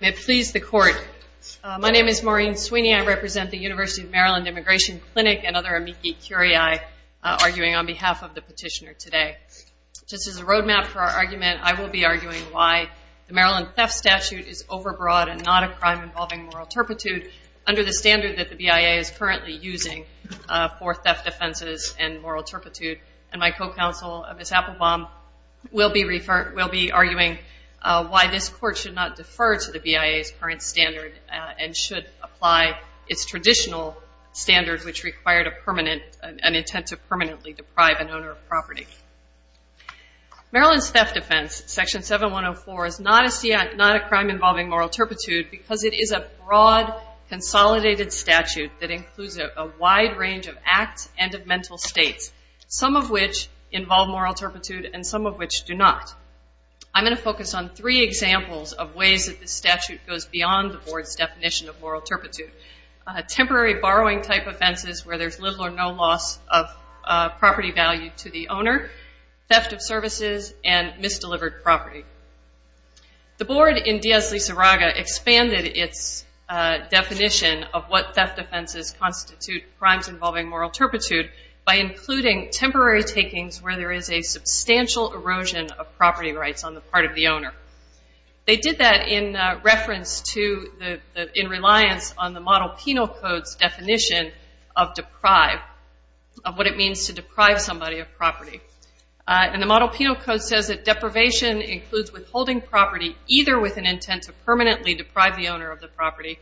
May it please the court. My name is Maureen Sweeney. I represent the University of Maryland Immigration Clinic and other amici curiae arguing on behalf of the petitioner today. Just as a roadmap for our argument, I will be arguing why the Maryland Theft Statute is overbroad and not a crime involving moral turpitude under the standard that the BIA is currently using for theft offenses and moral turpitude and why this court should not defer to the BIA's current standard and should apply its traditional standard which required a permanent, an intent to permanently deprive an owner of property. Maryland's theft offense, Section 7104, is not a crime involving moral turpitude because it is a broad, consolidated statute that includes a wide range of acts and of mental states, some of which involve moral turpitude and some of which do not. I'm going to focus on three examples of ways that the statute goes beyond the board's definition of moral turpitude. Temporary borrowing type offenses where there's little or no loss of property value to the owner, theft of services, and misdelivered property. The board in Diaz-Lizarraga expanded its definition of what theft offenses constitute crimes involving moral turpitude by including temporary takings where there is a substantial erosion of property rights on the part of the owner. They did that in reference to the in reliance on the Model Penal Code's definition of deprive, of what it means to deprive somebody of property. And the Model Penal Code says that deprivation includes withholding property either with an intent to permanently deprive the owner of the property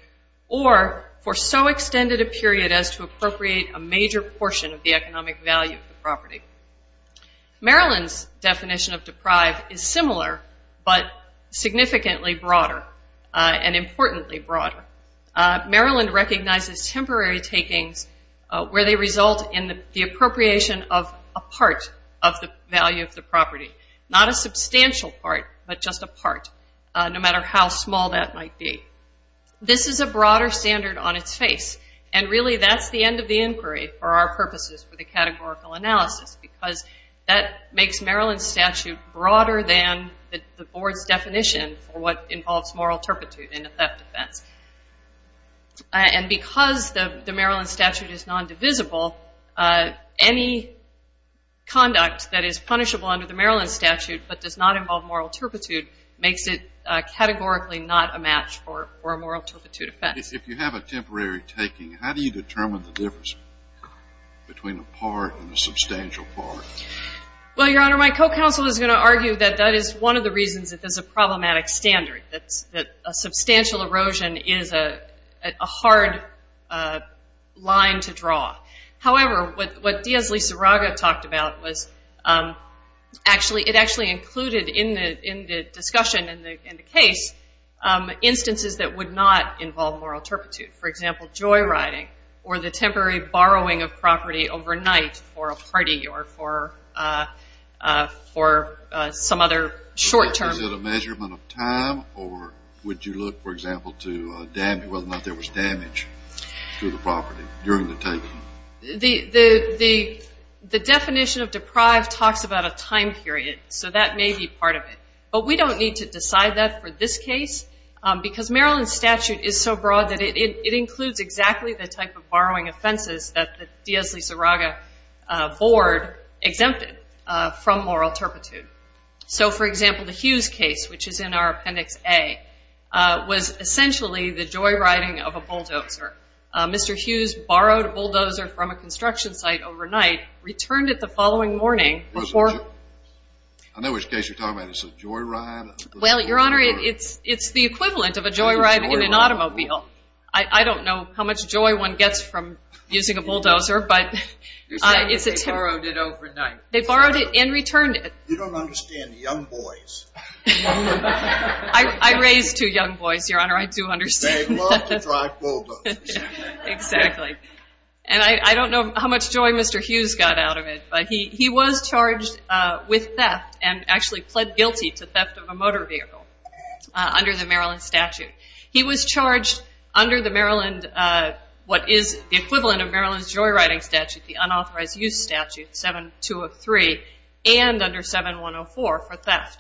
or for so extended a period as to the value of the property. Maryland's definition of deprive is similar but significantly broader and importantly broader. Maryland recognizes temporary takings where they result in the appropriation of a part of the value of the property, not a substantial part but just a part, no matter how because that makes Maryland's statute broader than the board's definition for what involves moral turpitude in a theft offense. And because the Maryland statute is nondivisible, any conduct that is punishable under the Maryland statute but does not involve moral turpitude makes it categorically not a match for a moral turpitude offense. If you have a temporary taking, how do you determine the difference between a part and a substantial part? Well, Your Honor, my co-counsel is going to argue that that is one of the reasons that there's a problematic standard, that a substantial erosion is a hard line to draw. However, what Diaz-Lizarraga talked about was actually, it actually included in the discussion and the case instances that would not involve moral turpitude. For example, joyriding or the temporary borrowing of property overnight for a party or for some other short term. Is it a measurement of time or would you look, for example, to whether or not there was damage to the property during the taking? The definition of deprived talks about a time period, so that may be part of it. But we don't need to decide that for this case because Maryland statute is so broad that it includes exactly the type of borrowing offenses that the Diaz-Lizarraga board exempted from moral turpitude. So, for example, the Hughes case, which is in our Appendix A, was essentially the joyriding of a bulldozer. Mr. Hughes borrowed a bulldozer from a construction site overnight, returned it the following morning before... I know which case you're talking about. Is it a joyride? Well, Your Honor, it's the equivalent of a joyride in an automobile. I don't know how much joy one gets from using a bulldozer, but it's a... You're saying they borrowed it overnight. They borrowed it and returned it. You don't understand the young boys. I raised two young boys, Your Honor. I do understand. They love to drive bulldozers. Exactly. And I don't know how much joy Mr. Hughes got out of it, but he was charged with theft and actually pled guilty to theft of a motor vehicle under the Maryland statute. He was charged under the Maryland, what is the equivalent of Maryland's joyriding statute, the 7104, for theft.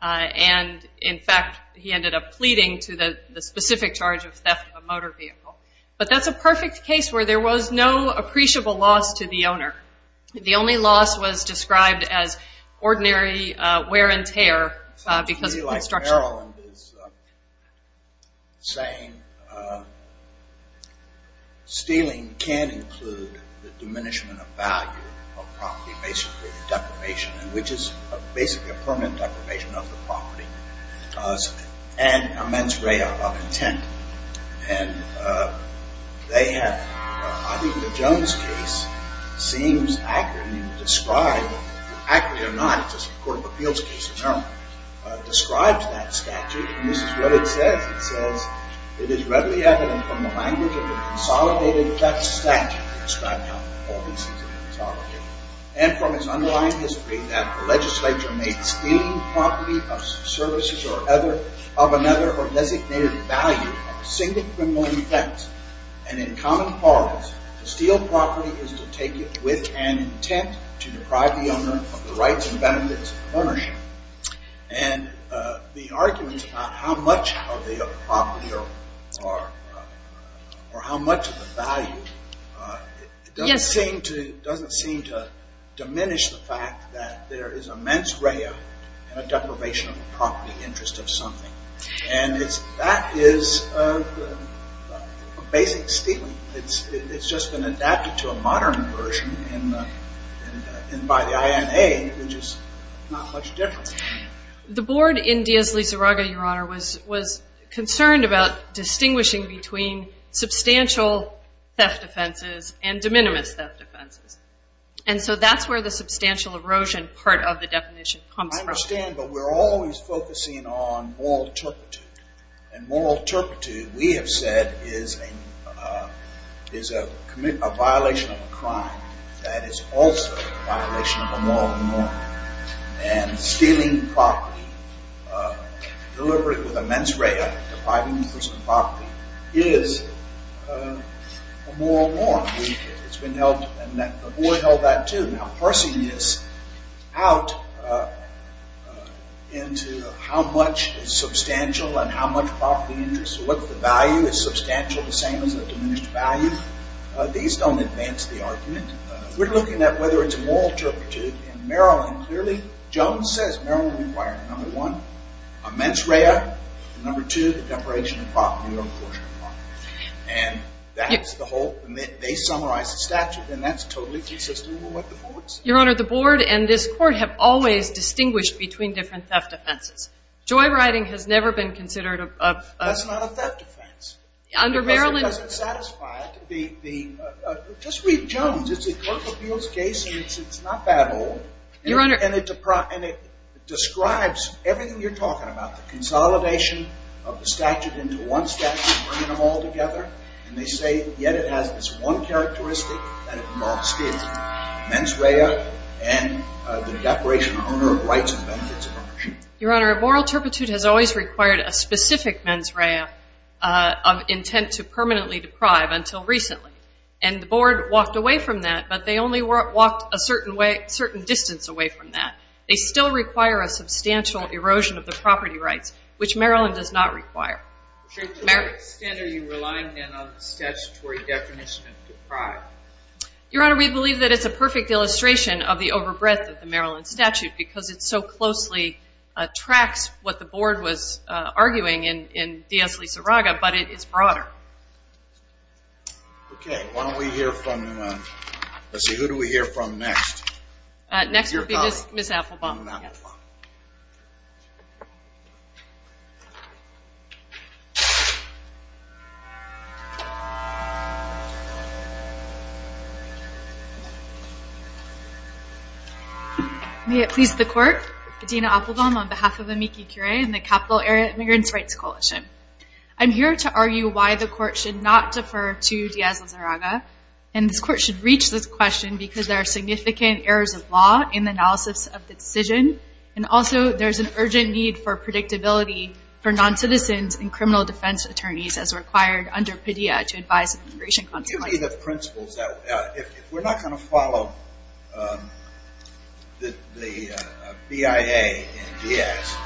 And, in fact, he ended up pleading to the specific charge of theft of a motor vehicle. But that's a perfect case where there was no appreciable loss to the owner. The only loss was described as ordinary wear and tear because of construction. Maryland is saying stealing can include the diminishment of value of property, basically a deprivation, which is basically a permanent deprivation of the property, and immense ray of intent. And they have, I think the Jones case seems accurate in describing, accurately or not, it's a court of appeals case in Maryland, describes that statute, and this is what it says. It says, it is readily evident from the language of the consolidated theft statute, and from its underlying history that the legislature made stealing property of services of another or designated value a single criminal offense. And in common parlance, to steal property is to deprive the owner of the rights and benefits of ownership. And the argument about how much of the property, or how much of the value, doesn't seem to diminish the fact that there is immense ray of deprivation of the property interest of something. And that is basic stealing. It's just been adapted to a modern version, and by the INA, which is not much different. The board in Diaz-Lizarraga, Your Honor, was concerned about distinguishing between substantial theft offenses and de minimis theft offenses. And so that's where the substantial erosion part of the definition comes from. I understand, but we're always focusing on moral turpitude. And moral turpitude, we have said, is a violation of a crime that is also a violation of a moral norm. And stealing property, deliberate with immense ray of depriving the person of property, is a moral norm. It's been held, and the board held that too. Now parsing this out into how much is substantial and how much property interest, or what the value is substantial, the same as the diminished value, these don't advance the argument. We're looking at whether it's a moral turpitude in Maryland. Clearly, Jones says Maryland required, number one, immense ray of, number two, deprivation of property on the portion of property. And that's the whole, they summarized the statute, and that's totally consistent with what Your Honor, the board and this court have always distinguished between different theft offenses. Joyriding has never been considered a That's not a theft offense. Under Maryland Because it doesn't satisfy the, just read Jones. It's a clerk appeals case, and it's not that old. Your Honor And it describes everything you're talking about, the consolidation of the statute into one statute, bringing them all together. And they say, yet it has this one characteristic that it mocks is, immense ray of, and the declaration of owner of rights and benefits of ownership. Your Honor, a moral turpitude has always required a specific immense ray of, of intent to permanently deprive until recently. And the board walked away from that, but they only walked a certain distance away from that. They still require a substantial erosion of the property rights, which Maryland does not require. To what extent are you relying then on the statutory definition of deprived? Your Honor, we believe that it's a perfect illustration of the over breadth of the Maryland statute, because it so closely tracks what the board was arguing in D.S. Lisa Raga, but it is broader. Okay, why don't we hear from, let's see, who do we hear from next? Next would be Ms. Appelbaum. May it please the court, Adina Appelbaum on behalf of Amici Curie and the Capital Area Immigrants Rights Coalition. I'm here to argue why the court should not defer to D.S. Lisa Raga, and this court should reach this question because there are significant errors of law in the analysis of the decision, and also there's an urgent need for predictability for non-citizens and criminal defense attorneys as required under PIDEA to advise immigration consequences. If we're not going to follow the BIA in D.S.,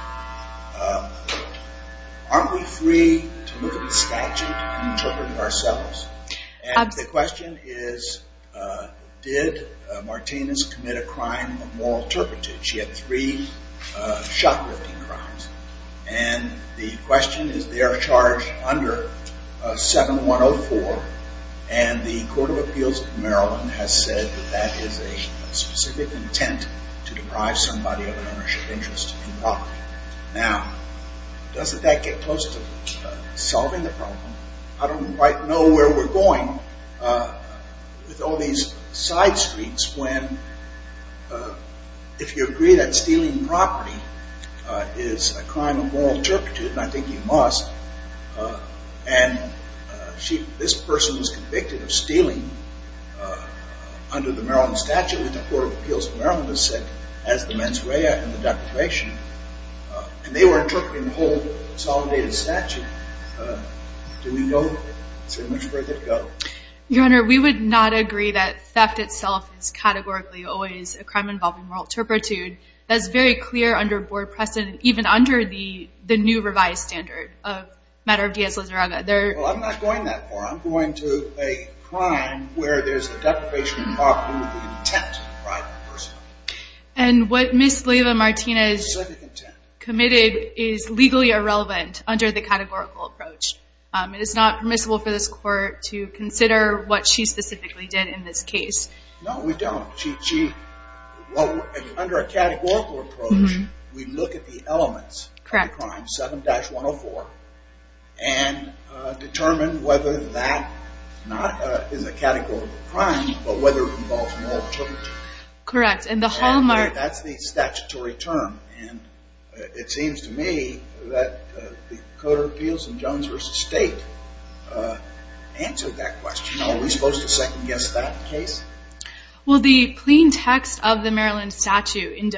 aren't we free to look at the statute and interpret it ourselves? Absolutely. And the question is, did Martinez commit a crime of moral turpitude? She had three shot-lifting crimes, and the question, is there a charge under 7104? And the Court of Appeals of Maryland has said that that is a specific intent to deprive somebody of an ownership interest in property. Now, doesn't that get close to solving the problem? I don't quite know where we're going with all these side streets when, if you agree that stealing property is a crime of moral turpitude, and I think you must, and this person was convicted of stealing under the Maryland statute, which the Court of Appeals of Maryland has said has the mens rea and the declaration, and they were interpreting the whole consolidated statute, do we go so much further to go? Your Honor, we would not agree that theft itself is categorically always a crime involving moral turpitude. That's very clear under Board precedent, even under the new revised standard of matter of D.S. Lizarraga. Well, I'm not going that far. I'm going to a crime where there's a deprivation of property with the intent to deprive the person. And what Ms. Leyva-Martinez committed is legally irrelevant under the categorical approach. It is not permissible for this Court to consider what she specifically did in this case. No, we don't. Under a categorical approach, we look at the elements of the crime, 7-104, and determine whether that is not a categorical crime, but whether it involves moral turpitude. Correct, and the hallmark... That's the statutory term, and it seems to me that the Court of Appeals in Jones v. State answered that question. Are we supposed to second-guess that case? Well, the plain text of the Maryland statute in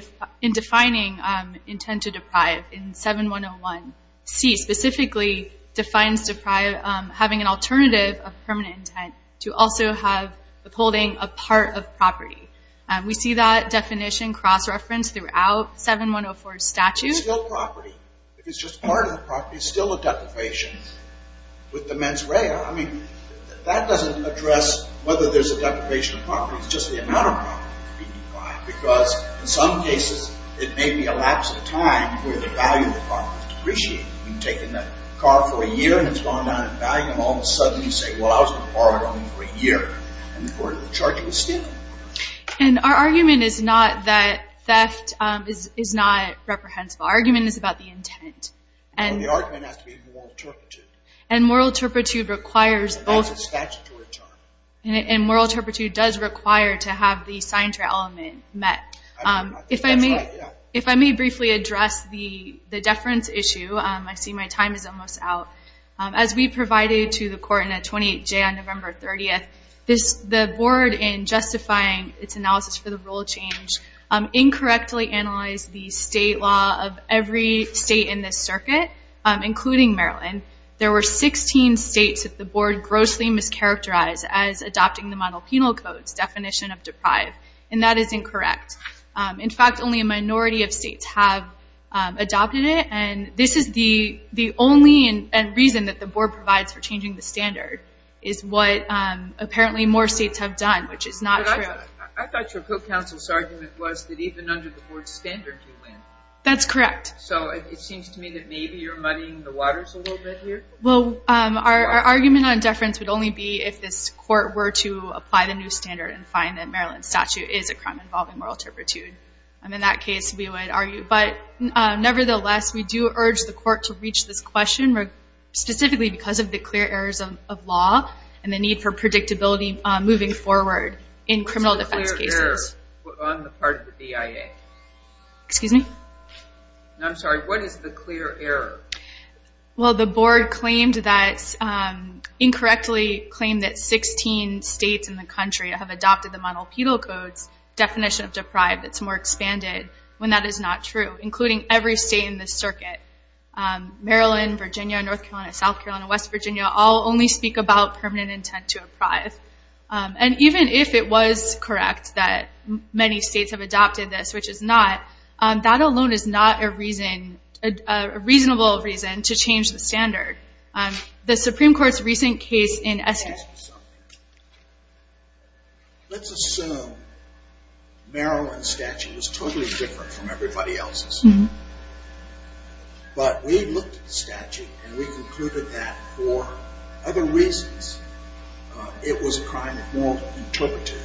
defining intent to deprive in 7-101C defines having an alternative of permanent intent to also have upholding a part of property. We see that definition cross-referenced throughout 7-104's statute. It's still property. It's just part of the property. It's still a deprivation. With the mens rea, I mean, that doesn't address whether there's a deprivation of property. It's just the amount of property that's being deprived, because in some cases, it may be a lapse of time where the value of the property is depreciated. You've taken that car for a year, and it's gone down in value, and all of a sudden you say, well, I was going to borrow it only for a year, and the Court of the Charge will steal it. And our argument is not that theft is not reprehensible. Our argument is about the intent. And the argument has to be moral turpitude. And moral turpitude requires both... And that's a statutory term. And moral turpitude does require to have the signature element met. If I may briefly address the deference issue, I see my time is almost out. As we provided to the Court in a 28-J on November 30th, the Board, in justifying its analysis for the rule change, incorrectly analyzed the state law of every state in this circuit, including Maryland. There were 16 states that the Board grossly mischaracterized as adopting the monopenal code's definition of deprived. And that is incorrect. In fact, only a minority of states have adopted it. And this is the only reason that the Board provides for changing the standard, is what apparently more states have done, which is not true. But I thought your court counsel's argument was that even under the Board's standard, you win. That's correct. So it seems to me that maybe you're muddying the waters a little bit here. Well, our argument on deference would only be if this Court were to apply the new standard and find that Maryland's statute is a crime involving moral turpitude. And in that case, we would argue. But nevertheless, we do urge the Court to reach this question, specifically because of the clear errors of law and the need for predictability moving forward in criminal defense cases. What's the clear error on the part of the BIA? Excuse me? I'm sorry, what is the clear error? Well, the Board incorrectly claimed that 16 states in the country have adopted the monopenal code's definition of deprived. It's more expanded when that is not true, including every state in this circuit. Maryland, Virginia, North Carolina, South Carolina, West Virginia, all only speak about permanent intent to deprive. And even if it was correct that many states have adopted this, which it's not, that alone is not a reasonable reason to change the standard. The Supreme Court's recent case in Estes... Let's assume Maryland's statute was totally different from everybody else's. But we looked at the statute and we concluded that for other reasons it was a crime of moral turpitude.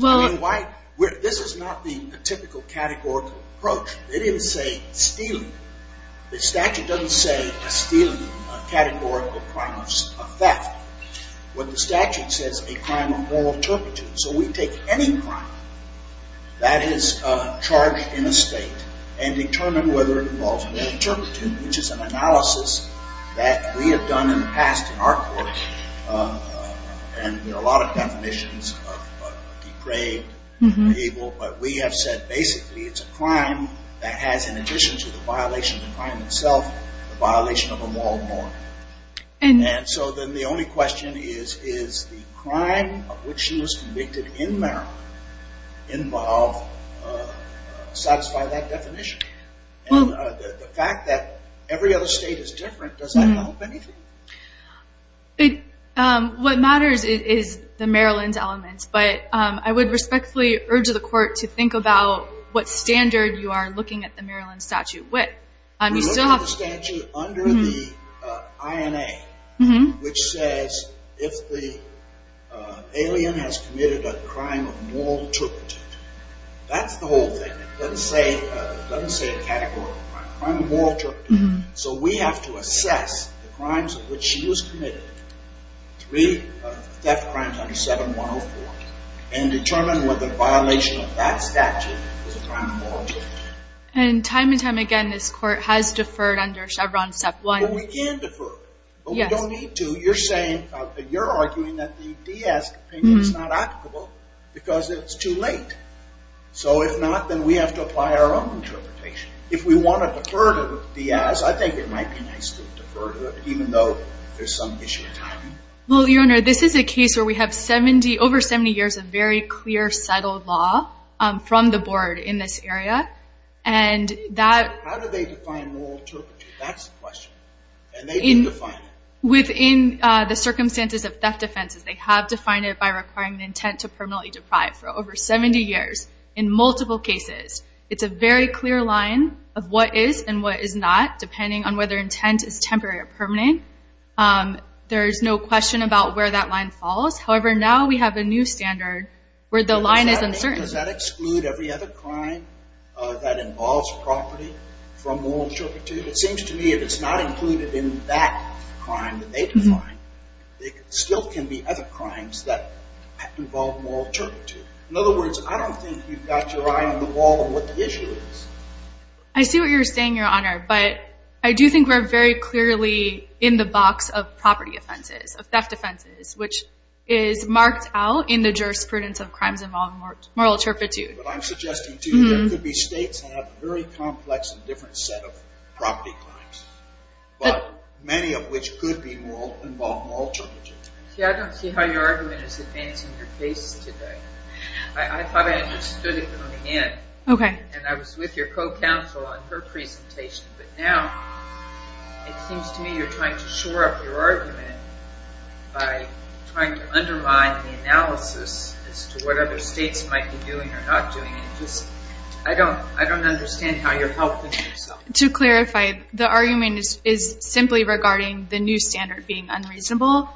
Well, this is not the typical categorical approach. They didn't say stealing. The statute doesn't say stealing, a categorical crime of theft. What the statute says is a crime of moral turpitude. So we take any crime that is charged in a state and determine whether it involves moral turpitude, which is an analysis that we have done in the past in our courts. And there are a lot of definitions of depraved, unable. But we have said basically it's a crime that has, in addition to the violation of the crime itself, the violation of a moral norm. And so then the only question is, is the crime of which she was convicted in Maryland involve... satisfy that definition? And the fact that every other state is different, does that help anything? What matters is the Maryland element. But I would respectfully urge the court to think about what standard you are looking at the Maryland statute with. We looked at the statute under the INA, which says if the alien has committed a crime of moral turpitude, that's the whole thing. It doesn't say a category of a crime of moral turpitude. So we have to assess the crimes of which she was committed, three theft crimes under 7104, and determine whether the violation of that statute is a crime of moral turpitude. And time and time again this court has deferred under Chevron Step 1. But we can defer. But we don't need to. You're saying, you're arguing that the DS opinion is not applicable because it's too late. So if not, then we have to apply our own interpretation. If we want to defer to the DS, I think it might be nice to defer to it, even though there's some issue of timing. Well, Your Honor, this is a case where we have 70, over 70 years of very clear, settled law from the board in this area. And that... How do they define moral turpitude? That's the question. And they do define it. Within the circumstances of theft offenses, they have defined it by requiring an intent to permanently deprive. For over 70 years, in multiple cases, it's a very clear line of what is and what is not, depending on whether intent is temporary or permanent. There is no question about where that line falls. However, now we have a new standard where the line is uncertain. Does that exclude every other crime that involves property from moral turpitude? It seems to me if it's not included in that crime that they define, there still can be other crimes that involve moral turpitude. In other words, I don't think you've got your eye on the wall of what the issue is. I see what you're saying, Your Honor. But I do think we're very clearly in the box of property offenses, of theft offenses, which is marked out in the jurisprudence of crimes involving moral turpitude. But I'm suggesting, too, there could be states that have a very complex and different set of property crimes, many of which could involve moral turpitude. See, I don't see how your argument is advancing your case today. I thought I understood it coming in, and I was with your co-counsel on her presentation, but now it seems to me you're trying to shore up your argument by trying to undermine the analysis as to what other states might be doing or not doing. I don't understand how you're helping yourself. To clarify, the argument is simply regarding the new standard being unreasonable,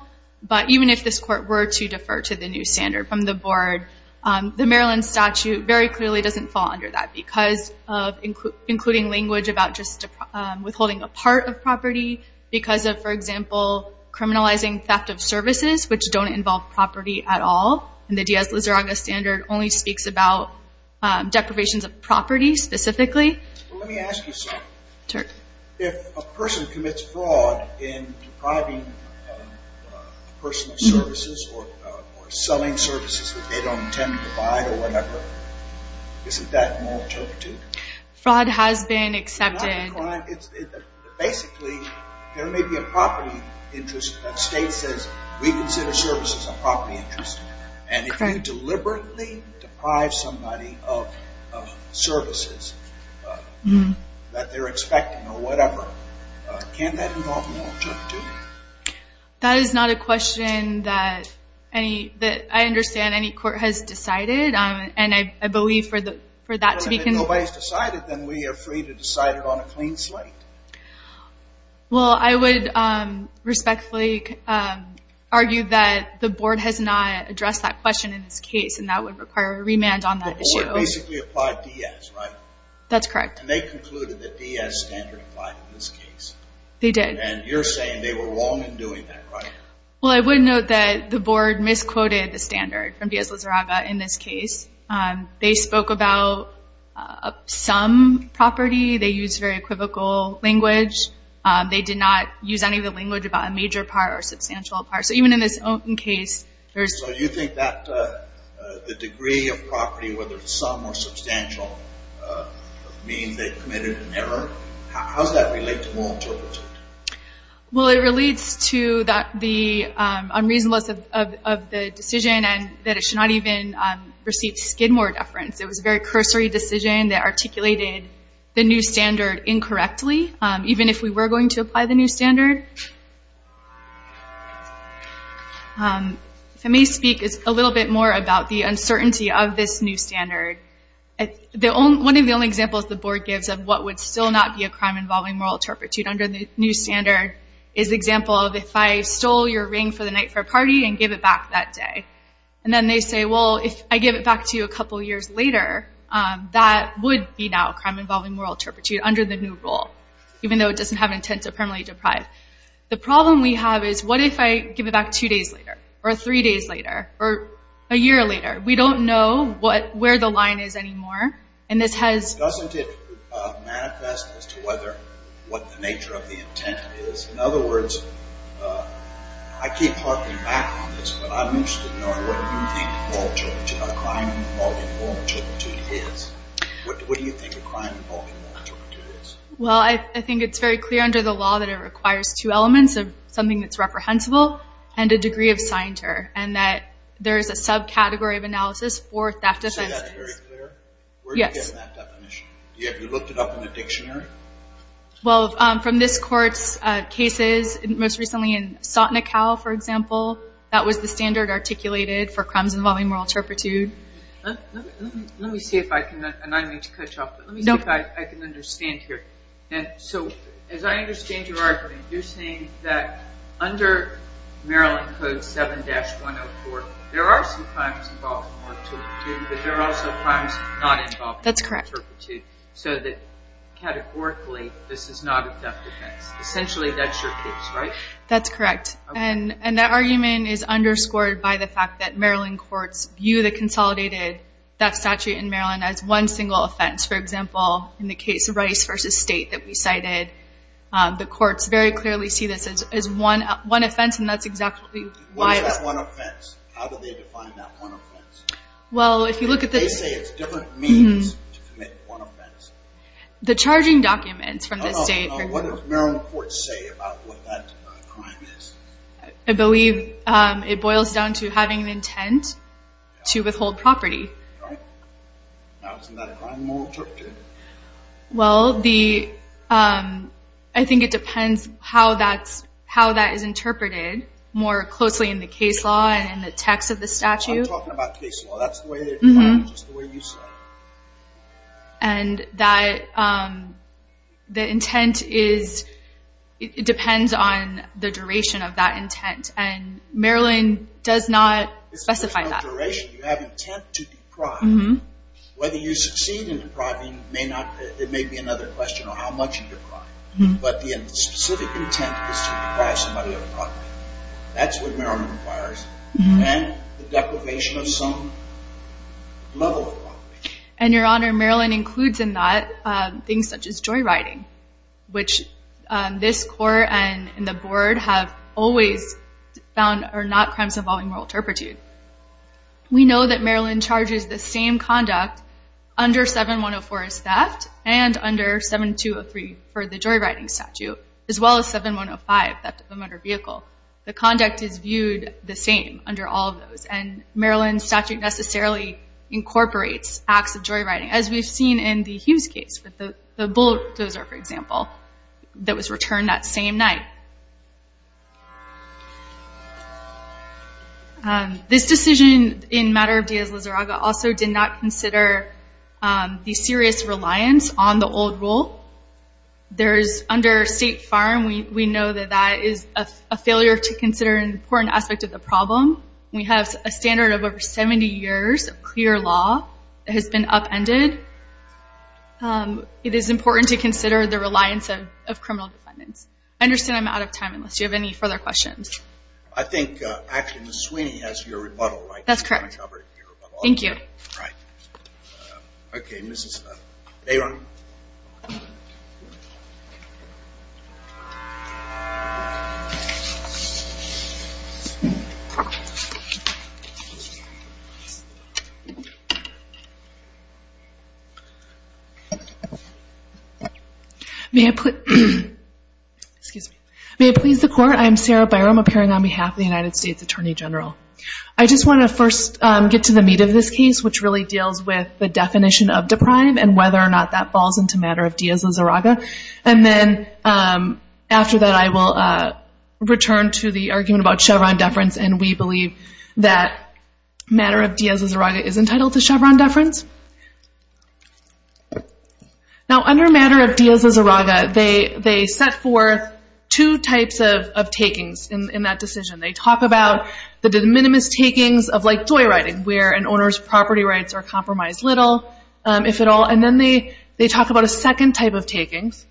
but even if this Court were to defer to the new standard from the Board, the Maryland statute very clearly doesn't fall under that because of including language about just withholding a part of property because of, for example, criminalizing theft of services, which don't involve property at all, and the Diaz-Lizarraga standard only speaks about deprivations of property specifically. Well, let me ask you something. If a person commits fraud in depriving a person of services or selling services that they don't intend to provide or whatever, isn't that moral turpitude? Fraud has been accepted. It's not a crime. Basically, there may be a property interest that states says, we consider services a property interest, and if you deliberately deprive somebody of services that they're expecting or whatever, can't that involve moral turpitude? That is not a question that I understand any court has decided, and I believe for that to be considered. Well, if nobody's decided, then we are free to decide it on a clean slate. Well, I would respectfully argue that the Board has not addressed that question in this case, and that would require a remand on that issue. The Board basically applied Diaz, right? That's correct. And they concluded that Diaz standard applied in this case. They did. And you're saying they were wrong in doing that, right? Well, I would note that the Board misquoted the standard from Diaz-Lizarraga in this case. They spoke about some property. They used very equivocal language. They did not use any of the language about a major part or substantial part. So even in this case, there's – So you think that the degree of property, whether it's sum or substantial, means they committed an error? How does that relate to moral turpitude? Well, it relates to the unreasonableness of the decision and that it should not even receive skidmore deference. It was a very cursory decision that articulated the new standard incorrectly, even if we were going to apply the new standard. If I may speak a little bit more about the uncertainty of this new standard. One of the only examples the Board gives of what would still not be a crime involving moral turpitude under the new standard is the example of if I stole your ring for the night for a party and gave it back that day. And then they say, well, if I give it back to you a couple years later, that would be now a crime involving moral turpitude under the new rule, even though it doesn't have an intent to permanently deprive. The problem we have is what if I give it back two days later or three days later or a year later? We don't know where the line is anymore, and this has – Doesn't it manifest as to what the nature of the intent is? In other words, I keep harping back on this, but I'm interested in knowing what you think a crime involving moral turpitude is. What do you think a crime involving moral turpitude is? Well, I think it's very clear under the law that it requires two elements, something that's reprehensible and a degree of scienter, and that there is a subcategory of analysis for theft offenses. Is that very clear? Yes. Where do you get that definition? Have you looked it up in a dictionary? Well, from this court's cases, most recently in Sotinikau, for example, that was the standard articulated for crimes involving moral turpitude. Let me see if I can – and I need to cut you off, but let me see if I can understand here. And so as I understand your argument, you're saying that under Maryland Code 7-104, there are some crimes involving moral turpitude, but there are also crimes not involving moral turpitude. That's correct. So categorically, this is not a theft offense. Essentially, that's your case, right? That's correct. And that argument is underscored by the fact that Maryland courts view the consolidated theft statute in Maryland as one single offense. For example, in the case of Rice v. State that we cited, the courts very clearly see this as one offense, and that's exactly why – What is that one offense? How do they define that one offense? Well, if you look at the – They say it's different means to commit one offense. The charging documents from the state – No, no, no. What does Maryland courts say about what that crime is? I believe it boils down to having an intent to withhold property. Right. Now, isn't that a crime of moral turpitude? Well, the – I think it depends how that's – how that is interpreted more closely in the case law and in the text of the statute. I'm talking about case law. That's the way they define it, just the way you said it. And that – the intent is – it depends on the duration of that intent, and Maryland does not specify that. It's the duration. You have intent to deprive. Whether you succeed in depriving may not – it may be another question on how much you deprive. But the specific intent is to deprive somebody of a property. That's what Maryland requires. And the deprivation of some level of property. And, Your Honor, Maryland includes in that things such as joyriding, which this court and the board have always found are not crimes involving moral turpitude. We know that Maryland charges the same conduct under 7104 as theft and under 7203 for the joyriding statute, as well as 7105, theft of a motor vehicle. The conduct is viewed the same under all of those, and Maryland's statute necessarily incorporates acts of joyriding, as we've seen in the Hughes case with the bulldozer, for example, that was returned that same night. This decision in matter of Dias-Lizarraga also did not consider the serious reliance on the old rule. Under State Farm, we know that that is a failure to consider an important aspect of the problem. We have a standard of over 70 years of clear law that has been upended. It is important to consider the reliance of criminal defendants. I understand I'm out of time, unless you have any further questions. I think, actually, Ms. Sweeney has your rebuttal, right? That's correct. Do you want to cover your rebuttal? Thank you. All right. Okay, Ms. Bayram. May I please the Court? I am Sarah Bayram, appearing on behalf of the United States Attorney General. I just want to first get to the meat of this case, which really deals with the definition of deprime and whether or not that falls into matter of Dias-Lizarraga. And then, after that, I will return to the argument about Chevron deference, and we believe that matter of Dias-Lizarraga is entitled to Chevron deference. Now, under matter of Dias-Lizarraga, they set forth two types of takings in that decision. They talk about the de minimis takings of, like, joyriding, where an owner's property rights are compromised little, if at all. And then they talk about a second type of takings,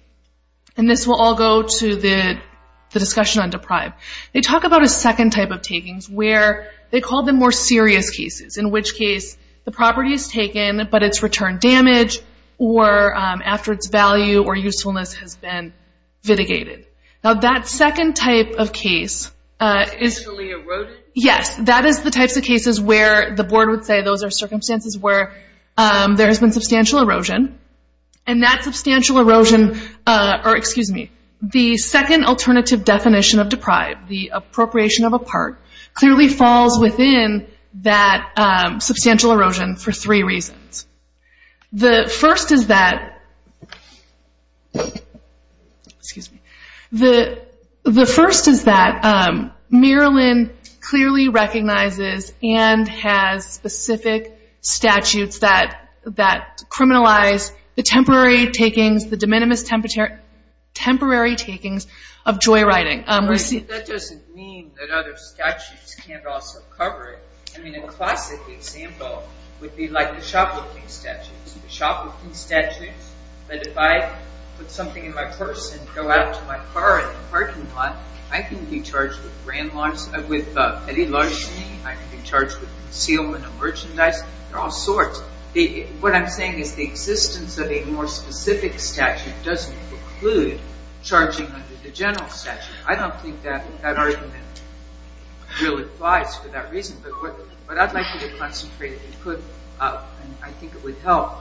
and this will all go to the discussion on deprive. They talk about a second type of takings where they call them more serious cases, in which case the property is taken, but its return damage or after its value or usefulness has been vitigated. Now, that second type of case is the types of cases where the board would say those are circumstances where there has been substantial erosion. And that substantial erosion, or excuse me, the second alternative definition of deprive, the appropriation of a part, clearly falls within that substantial erosion for three reasons. The first is that, excuse me, the first is that Maryland clearly recognizes and has specific statutes that criminalize the temporary takings, the de minimis temporary takings of joyriding. That doesn't mean that other statutes can't also cover it. I mean, a classic example would be, like, the shoplifting statutes. The shoplifting statutes, that if I put something in my purse and go out to my car in the parking lot, I can be charged with grand launches, I can be charged with concealment of merchandise. There are all sorts. What I'm saying is the existence of a more specific statute doesn't preclude charging under the general statute. I don't think that argument really applies for that reason. But what I'd like you to concentrate, and I think it would help,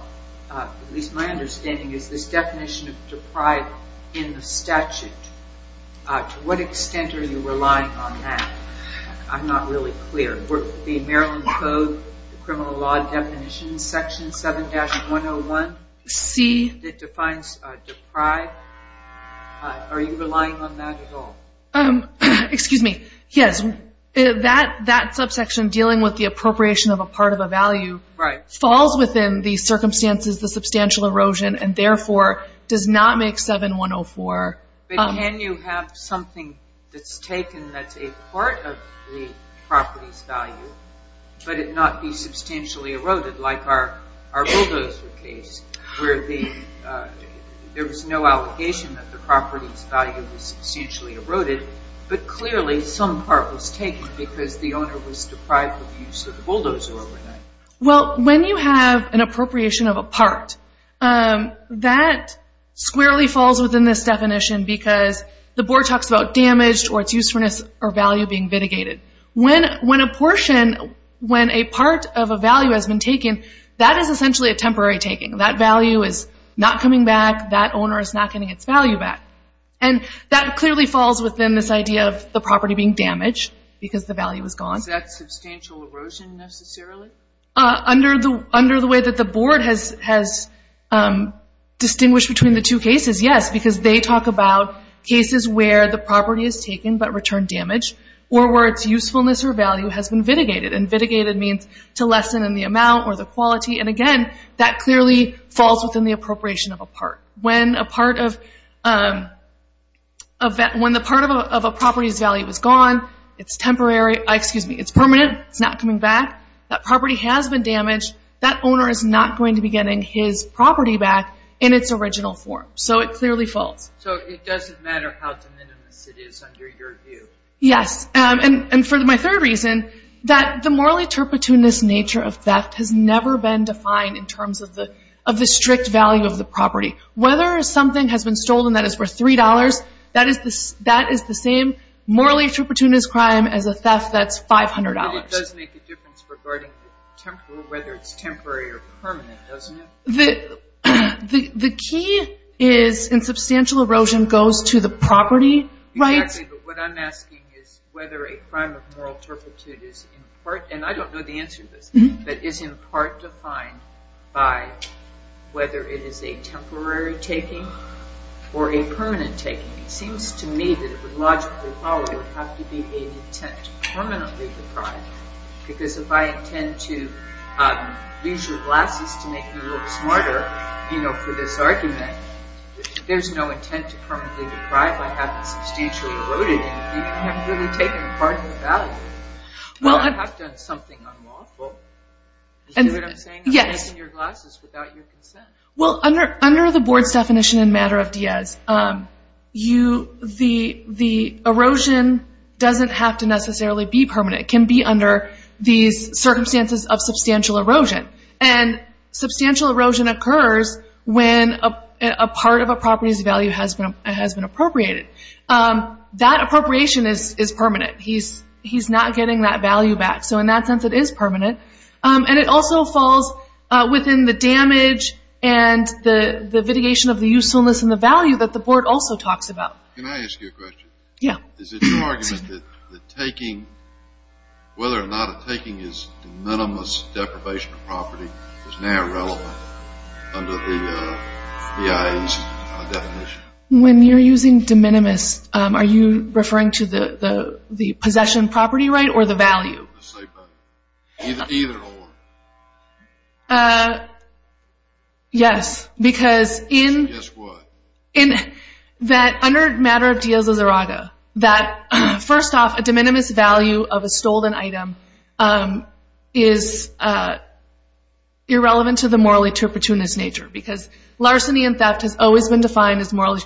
at least my understanding, is this definition of deprive in the statute. To what extent are you relying on that? I'm not really clear. The Maryland Code, the criminal law definition, section 7-101C that defines deprive, are you relying on that at all? Excuse me. Yes. That subsection dealing with the appropriation of a part of a value falls within the circumstances, the substantial erosion, and therefore does not make 7-104. But can you have something that's taken that's a part of the property's value, but it not be substantially eroded, like our bulldozer case, where there was no allegation that the property's value was substantially eroded, but clearly some part was taken because the owner was deprived of use of the bulldozer overnight? Well, when you have an appropriation of a part, that squarely falls within this definition because the board talks about damage or its usefulness or value being mitigated. When a portion, when a part of a value has been taken, that is essentially a temporary taking. That value is not coming back. That owner is not getting its value back. And that clearly falls within this idea of the property being damaged because the value is gone. Is that substantial erosion necessarily? Under the way that the board has distinguished between the two cases, yes, because they talk about cases where the property is taken but returned damage, or where its usefulness or value has been mitigated. And mitigated means to lessen in the amount or the quality. And again, that clearly falls within the appropriation of a part. When a part of a property's value is gone, it's permanent. It's not coming back. That property has been damaged. That owner is not going to be getting his property back in its original form. So it clearly falls. So it doesn't matter how de minimis it is under your view? Yes. And for my third reason, that the morally turpitunist nature of theft has never been defined in terms of the strict value of the property. Whether something has been stolen that is worth $3, that is the same morally turpitunist crime as a theft that's $500. But it does make a difference regarding whether it's temporary or permanent, doesn't it? The key is in substantial erosion goes to the property rights. Exactly. But what I'm asking is whether a crime of moral turpitude is in part, and I don't know the answer to this, but is in part defined by whether it is a temporary taking or a permanent taking. It seems to me that it would logically follow it would have to be an intent to permanently deprive. Because if I intend to use your glasses to make me look smarter for this argument, there's no intent to permanently deprive. I haven't substantially eroded it. You haven't really taken part in the value. Well, I have done something unlawful. Do you know what I'm saying? Yes. I'm taking your glasses without your consent. Well, under the board's definition in matter of Diaz, the erosion doesn't have to necessarily be permanent. It can be under these circumstances of substantial erosion. And substantial erosion occurs when a part of a property's value has been appropriated. That appropriation is permanent. He's not getting that value back. So in that sense it is permanent. And it also falls within the damage and the litigation of the usefulness and the value that the board also talks about. Can I ask you a question? Yeah. Is it your argument that taking, whether or not a taking is de minimis deprivation of property, is now irrelevant under the BIA's definition? When you're using de minimis, are you referring to the possession property right or the value? Either or. Yes. Because in that, under matter of Diaz-Lazaraga, that first off a de minimis value of a stolen item is irrelevant to the morally turpitunist nature. Because larceny and theft has always been defined as morally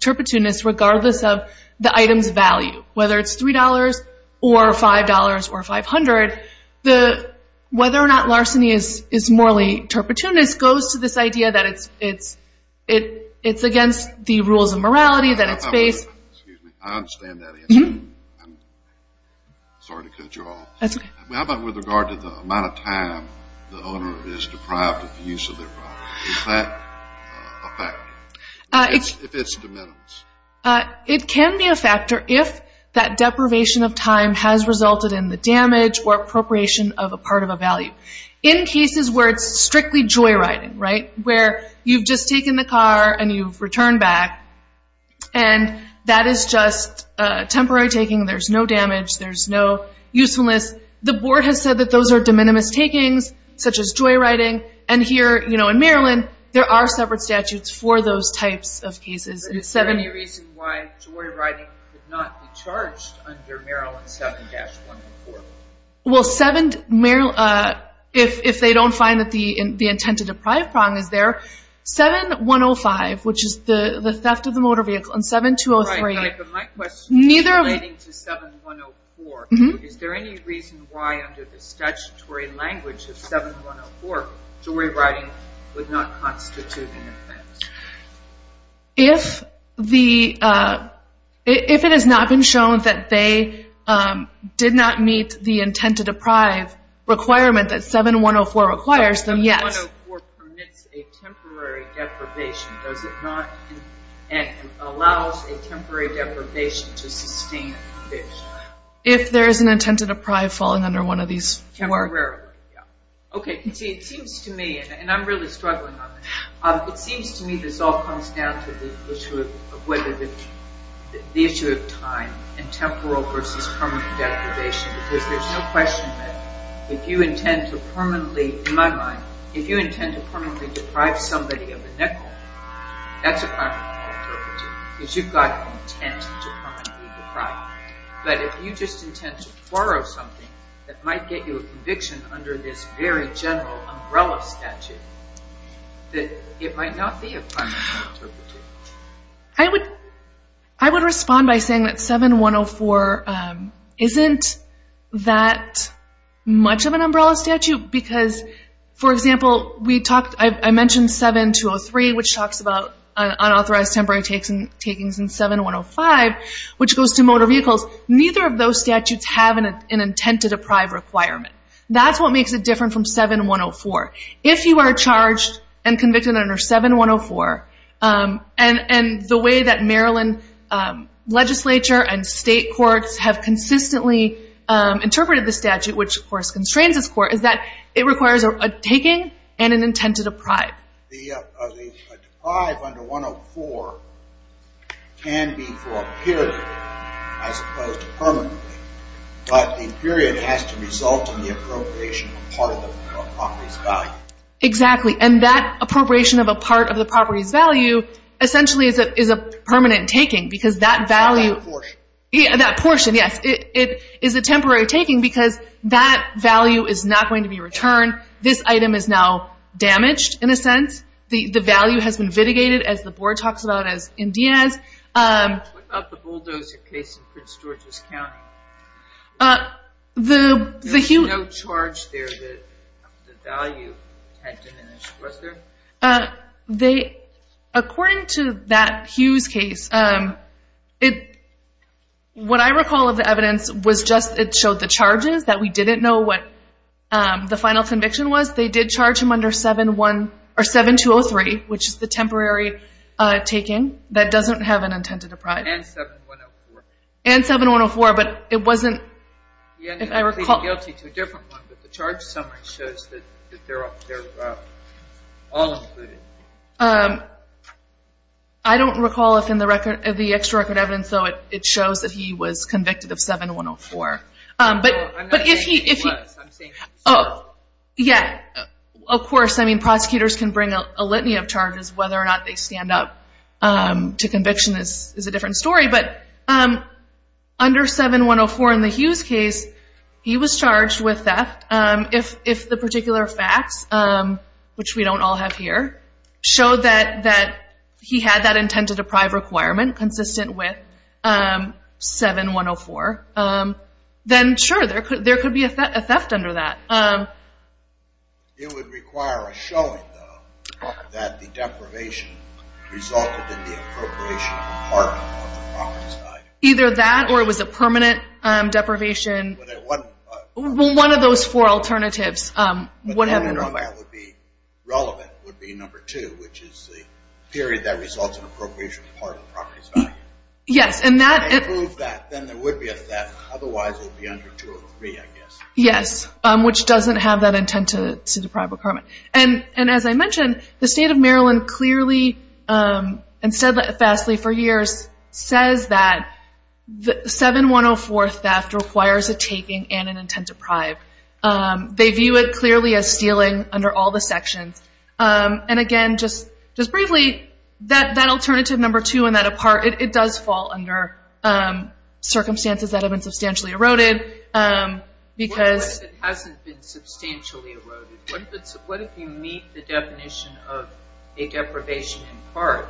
turpitunist regardless of the item's value. Whether it's $3 or $5 or $500, whether or not larceny is morally turpitunist goes to this idea that it's against the rules of morality that it's based. Excuse me. I understand that answer. Sorry to cut you off. That's okay. How about with regard to the amount of time the owner is deprived of the use of their property? Is that a factor? If it's de minimis. It can be a factor if that deprivation of time has resulted in the damage or appropriation of a part of a value. In cases where it's strictly joyriding, where you've just taken the car and you've returned back and that is just temporary taking, there's no damage, there's no usefulness, the board has said that those are de minimis takings such as joyriding. Here in Maryland, there are separate statutes for those types of cases. Is there any reason why joyriding could not be charged under Maryland 7-104? If they don't find that the intent to deprive problem is there, 7-105, which is the theft of the motor vehicle, and 7-203. My question is relating to 7-104. Is there any reason why under the statutory language of 7-104, joyriding would not constitute an offense? If it has not been shown that they did not meet the intent to deprive requirement that 7-104 requires, then yes. 7-104 permits a temporary deprivation. Does it not allow a temporary deprivation to sustain a fish? If there is an intent to deprive falling under one of these. Temporarily, yes. It seems to me, and I'm really struggling on this, it seems to me this all comes down to the issue of whether the issue of time and temporal versus permanent deprivation because there's no question that if you intend to permanently, in my mind, if you intend to permanently deprive somebody of a nickel, that's a crime of no perpetuity because you've got an intent to permanently deprive. But if you just intend to borrow something that might get you a conviction under this very general umbrella statute, it might not be a crime of no perpetuity. I would respond by saying that 7-104 isn't that much of an umbrella statute because, for example, I mentioned 7-203, which talks about unauthorized temporary takings in 7-105, which goes to motor vehicles. Neither of those statutes have an intent to deprive requirement. That's what makes it different from 7-104. If you are charged and convicted under 7-104, and the way that Maryland legislature and state courts have consistently interpreted the statute, which, of course, requires a taking and an intent to deprive. The deprive under 104 can be for a period as opposed to permanently, but the period has to result in the appropriation of part of the property's value. Exactly. And that appropriation of a part of the property's value essentially is a permanent taking because that value – It's not that portion. Yeah, that portion, yes. It is a temporary taking because that value is not going to be returned. This item is now damaged, in a sense. The value has been vitigated, as the board talks about, as in Diaz. What about the bulldozer case in Prince George's County? There was no charge there that the value had diminished. Was there? According to that Hughes case, what I recall of the evidence was just it showed the charges, that we didn't know what the final conviction was. They did charge him under 7-203, which is the temporary taking that doesn't have an intent to deprive. And 7-104. And 7-104, but it wasn't, if I recall. But the charge summary shows that they're all included. I don't recall if in the extra-record evidence, though, it shows that he was convicted of 7-104. I'm not saying he was. I'm saying he served. Yeah, of course. I mean, prosecutors can bring a litany of charges. Whether or not they stand up to conviction is a different story. But under 7-104 in the Hughes case, he was charged with theft. If the particular facts, which we don't all have here, show that he had that intent to deprive requirement consistent with 7-104, then, sure, there could be a theft under that. It would require a showing, though, that the deprivation resulted in the appropriation of part of the property's value. Either that, or it was a permanent deprivation. Well, one of those four alternatives. The only one that would be relevant would be number two, which is the period that results in appropriation of part of the property's value. Yes. If they prove that, then there would be a theft. Otherwise, it would be under 203, I guess. Yes, which doesn't have that intent to deprive requirement. As I mentioned, the state of Maryland clearly, and said that fastly for years, says that 7-104 theft requires a taking and an intent to deprive. They view it clearly as stealing under all the sections. Again, just briefly, that alternative number two and that apart, it does fall under circumstances that have been substantially eroded. What if it hasn't been substantially eroded? What if you meet the definition of a deprivation in part,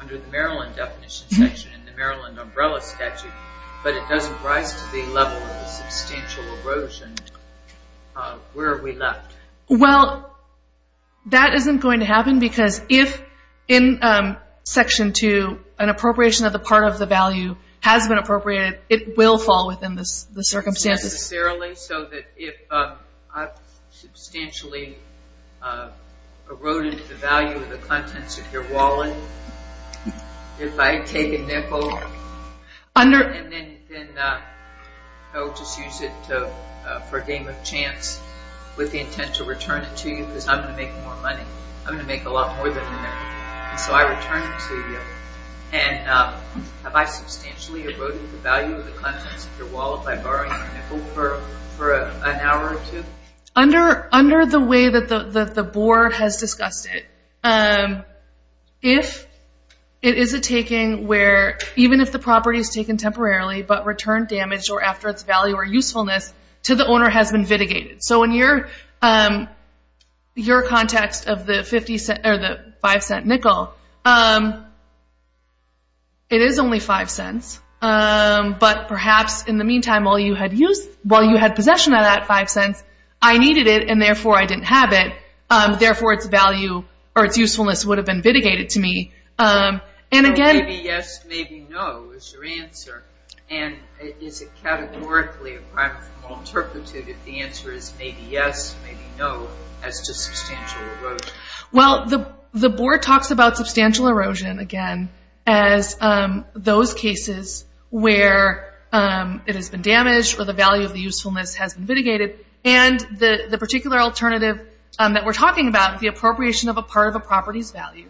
under the Maryland definition section in the Maryland umbrella statute, but it doesn't rise to the level of substantial erosion? Where are we left? Well, that isn't going to happen, because if in section two an appropriation of the part of the value has been appropriated, it will fall within the circumstances. So that if I've substantially eroded the value of the contents of your wallet, if I take a nickel and then I'll just use it for a game of chance, with the intent to return it to you because I'm going to make more money. I'm going to make a lot more than that. So I return it to you. And have I substantially eroded the value of the contents of your wallet by borrowing a nickel for an hour or two? Under the way that the board has discussed it, if it is a taking where even if the property is taken temporarily, but returned damaged or after its value or usefulness, to the owner has been vitigated. So in your context of the $0.05 nickel, it is only $0.05. But perhaps in the meantime while you had possession of that $0.05, I needed it and therefore I didn't have it, therefore its value or its usefulness would have been vitigated to me. And again... Maybe yes, maybe no is your answer. And is it categorically a crime of all turpitude if the answer is maybe yes, maybe no as to substantial erosion? Well, the board talks about substantial erosion, again, as those cases where it has been damaged or the value of the usefulness has been vitigated. And the particular alternative that we're talking about, the appropriation of a part of a property's value,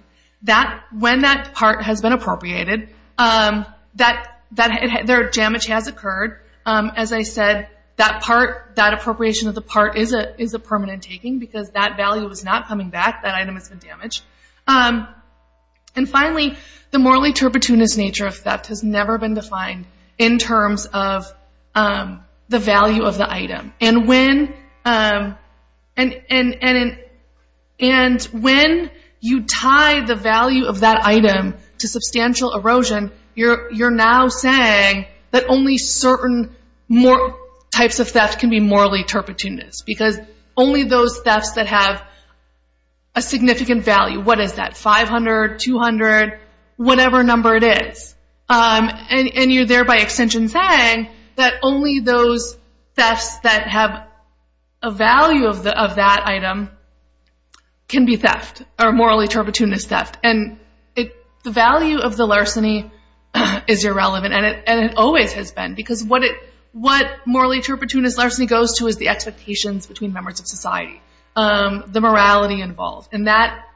when that part has been appropriated, their damage has occurred. As I said, that part, that appropriation of the part is a permanent taking because that value is not coming back, that item has been damaged. And finally, the morally turpituous nature of theft has never been defined in terms of the value of the item. And when you tie the value of that item to substantial erosion, you're now saying that only certain types of theft can be morally turpituous because only those thefts that have a significant value, what is that, 500, 200, whatever number it is, and you're there by extension saying that only those thefts that have a value of that item can be theft or morally turpituous theft. And the value of the larceny is irrelevant and it always has been because what morally turpituous larceny goes to is the expectations between members of society, the morality involved. And that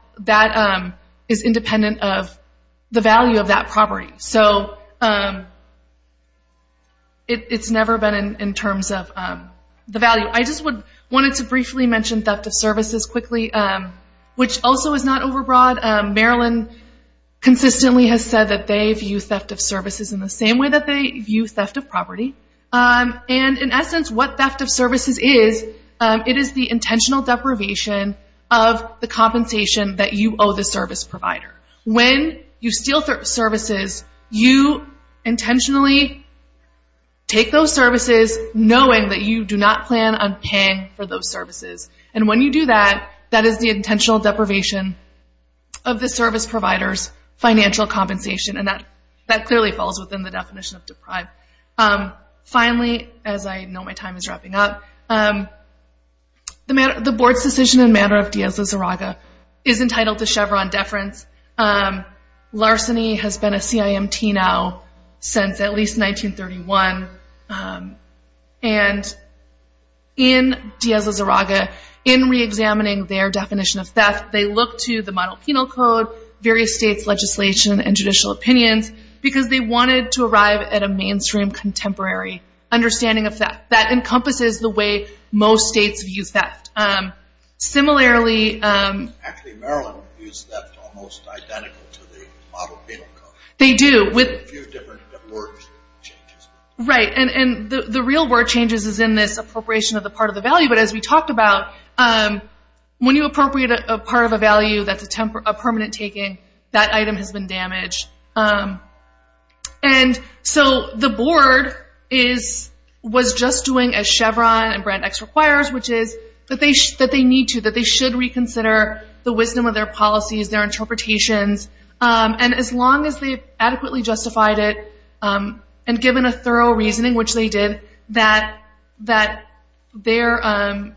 is independent of the value of that property. So it's never been in terms of the value. I just wanted to briefly mention theft of services quickly, which also is not overbroad. Maryland consistently has said that they view theft of services in the same way that they view theft of property. And in essence, what theft of services is, it is the intentional deprivation of the compensation that you owe the service provider. When you steal services, you intentionally take those services knowing that you do not plan on paying for those services. And when you do that, that is the intentional deprivation of the service provider's financial compensation. And that clearly falls within the definition of deprived. Finally, as I know my time is wrapping up, the board's decision in matter of Diaz-Lazaraga is entitled to Chevron deference. Larceny has been a CIMT now since at least 1931. And in Diaz-Lazaraga, in reexamining their definition of theft, they look to the model penal code, various states' legislation, and judicial opinions because they wanted to arrive at a mainstream contemporary understanding of theft. That encompasses the way most states view theft. Similarly... Actually, Maryland views theft almost identical to the model penal code. They do. A few different word changes. Right. And the real word changes is in this appropriation of the part of the value. But as we talked about, when you appropriate a part of a value that's a permanent taking, that item has been damaged. And so the board was just doing as Chevron and Brand X requires, which is that they need to, that they should reconsider the wisdom of their policies, their interpretations. And as long as they've adequately justified it and given a thorough reasoning, which they did, that their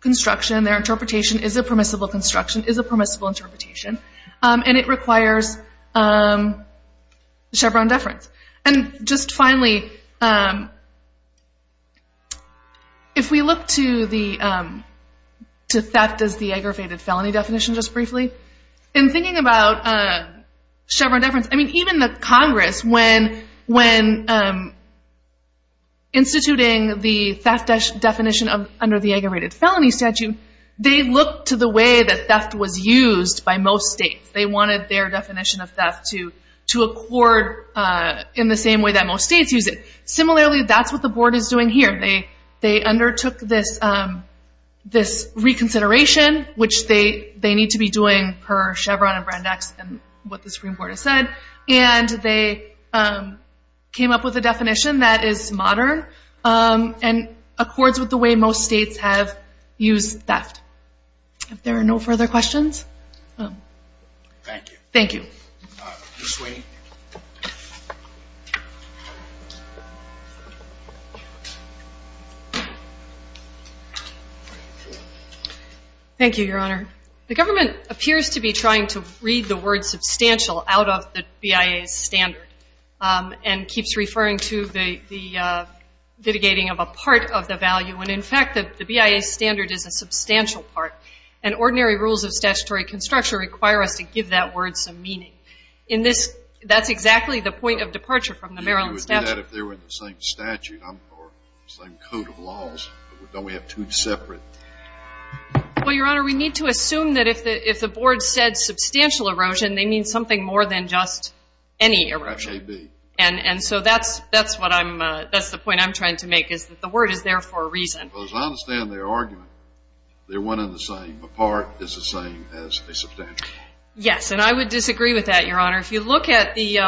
construction, their interpretation, is a permissible construction, is a permissible interpretation. And it requires Chevron deference. And just finally, if we look to theft as the aggravated felony definition just briefly, in thinking about Chevron deference, I mean, even the Congress, when instituting the theft definition under the aggravated felony statute, they looked to the way that theft was used by most states. They wanted their definition of theft to accord in the same way that most states use it. Similarly, that's what the board is doing here. They undertook this reconsideration, which they need to be doing per Chevron and Brand X and what the Supreme Court has said, and they came up with a definition that is modern and accords with the way most states have used theft. If there are no further questions. Thank you. Ms. Sweeney. Thank you, Your Honor. The government appears to be trying to read the word substantial out of the BIA standard and keeps referring to the litigating of a part of the value. And in fact, the BIA standard is a substantial part, and ordinary rules of statutory construction require us to give that word some meaning. That's exactly the point of departure from the Maryland statute. If they were in the same statute or same code of laws, don't we have two separate? Well, Your Honor, we need to assume that if the board said substantial erosion, they mean something more than just any erosion. Perhaps they do. And so that's the point I'm trying to make is that the word is there for a reason. Because I understand their argument. They're one and the same. A part is the same as a substantial. Yes, and I would disagree with that, Your Honor. If you look at the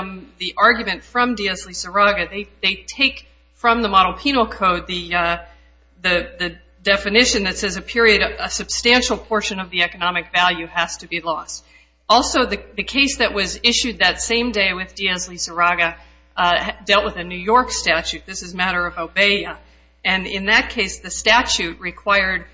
argument from Diaz-Lizarraga, they take from the model penal code the definition that says a period, a substantial portion of the economic value has to be lost. Also, the case that was issued that same day with Diaz-Lizarraga dealt with a New York statute. This is a matter of obey. And in that case, the statute required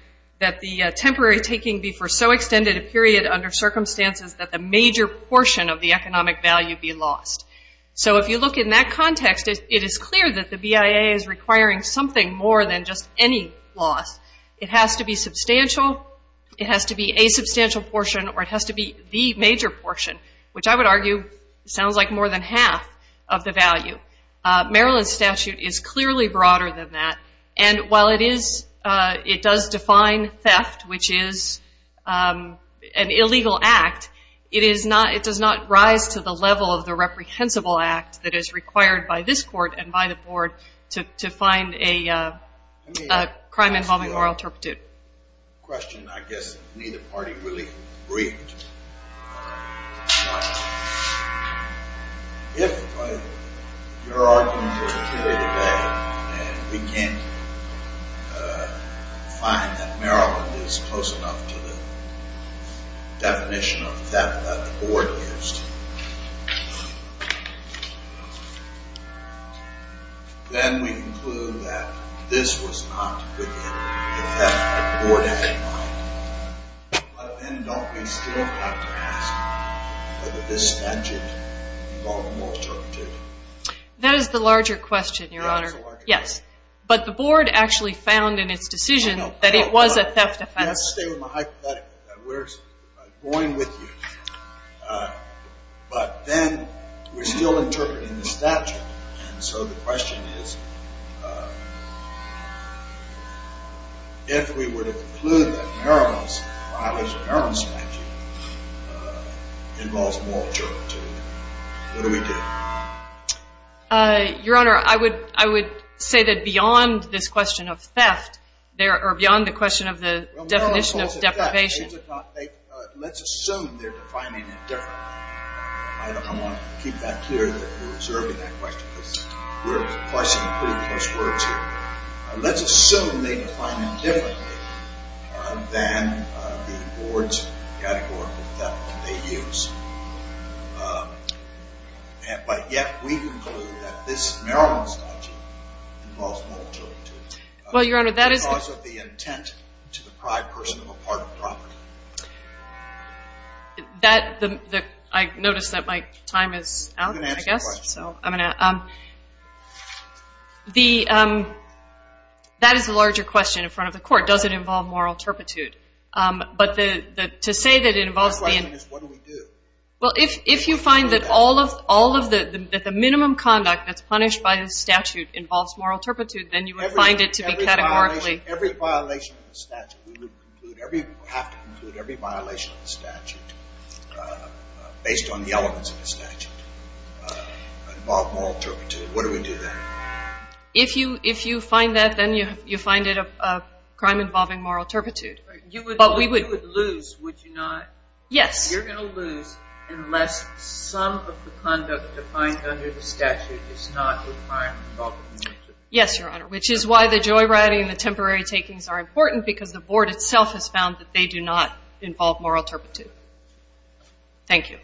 that the temporary taking be for so extended a period under circumstances that the major portion of the economic value be lost. So if you look in that context, it is clear that the BIA is requiring something more than just any loss. It has to be substantial, it has to be a substantial portion, or it has to be the major portion, which I would argue sounds like more than half of the value. Maryland's statute is clearly broader than that. And while it does define theft, which is an illegal act, it does not rise to the level of the reprehensible act that is required by this court and by the board to find a crime involving oral turpitude. A question I guess neither party really agreed to. If your argument is clear today, and we can't find that Maryland is close enough to the definition of theft that the board gives to you, then we conclude that this was not within the theft that the board had in mind. But then don't we still have to ask whether this statute involved oral turpitude? That is the larger question, Your Honor. Yes. But the board actually found in its decision that it was a theft offense. You have to stay with my hypothetical, that we're going with you. But then we're still interpreting the statute, and so the question is if we were to conclude that Maryland's violation of Maryland's statute involves oral turpitude, what do we do? Your Honor, I would say that beyond this question of theft, or beyond the question of the definition of deprivation, let's assume they're defining it differently. I want to keep that clear that you're observing that question, because we're questioning pretty close words here. Let's assume they define it differently than the board's category of theft that they use. But yet we conclude that this Maryland statute involves oral turpitude. Well, Your Honor, that is the intent to deprive a person of a part of the property. I notice that my time is out, I guess. I'm going to ask a question. That is the larger question in front of the court. Does it involve oral turpitude? My question is what do we do? Well, if you find that the minimum conduct that's punished by the statute involves oral turpitude, then you would find it to be categorically Every violation of the statute, we would have to conclude every violation of the statute based on the elements of the statute involve oral turpitude. What do we do then? If you find that, then you find it a crime involving oral turpitude. You would lose, would you not? Yes. You're going to lose unless some of the conduct defined under the statute is not a crime involving oral turpitude. Yes, Your Honor, which is why the joyriding and the temporary takings are important because the board itself has found that they do not involve oral turpitude. Thank you.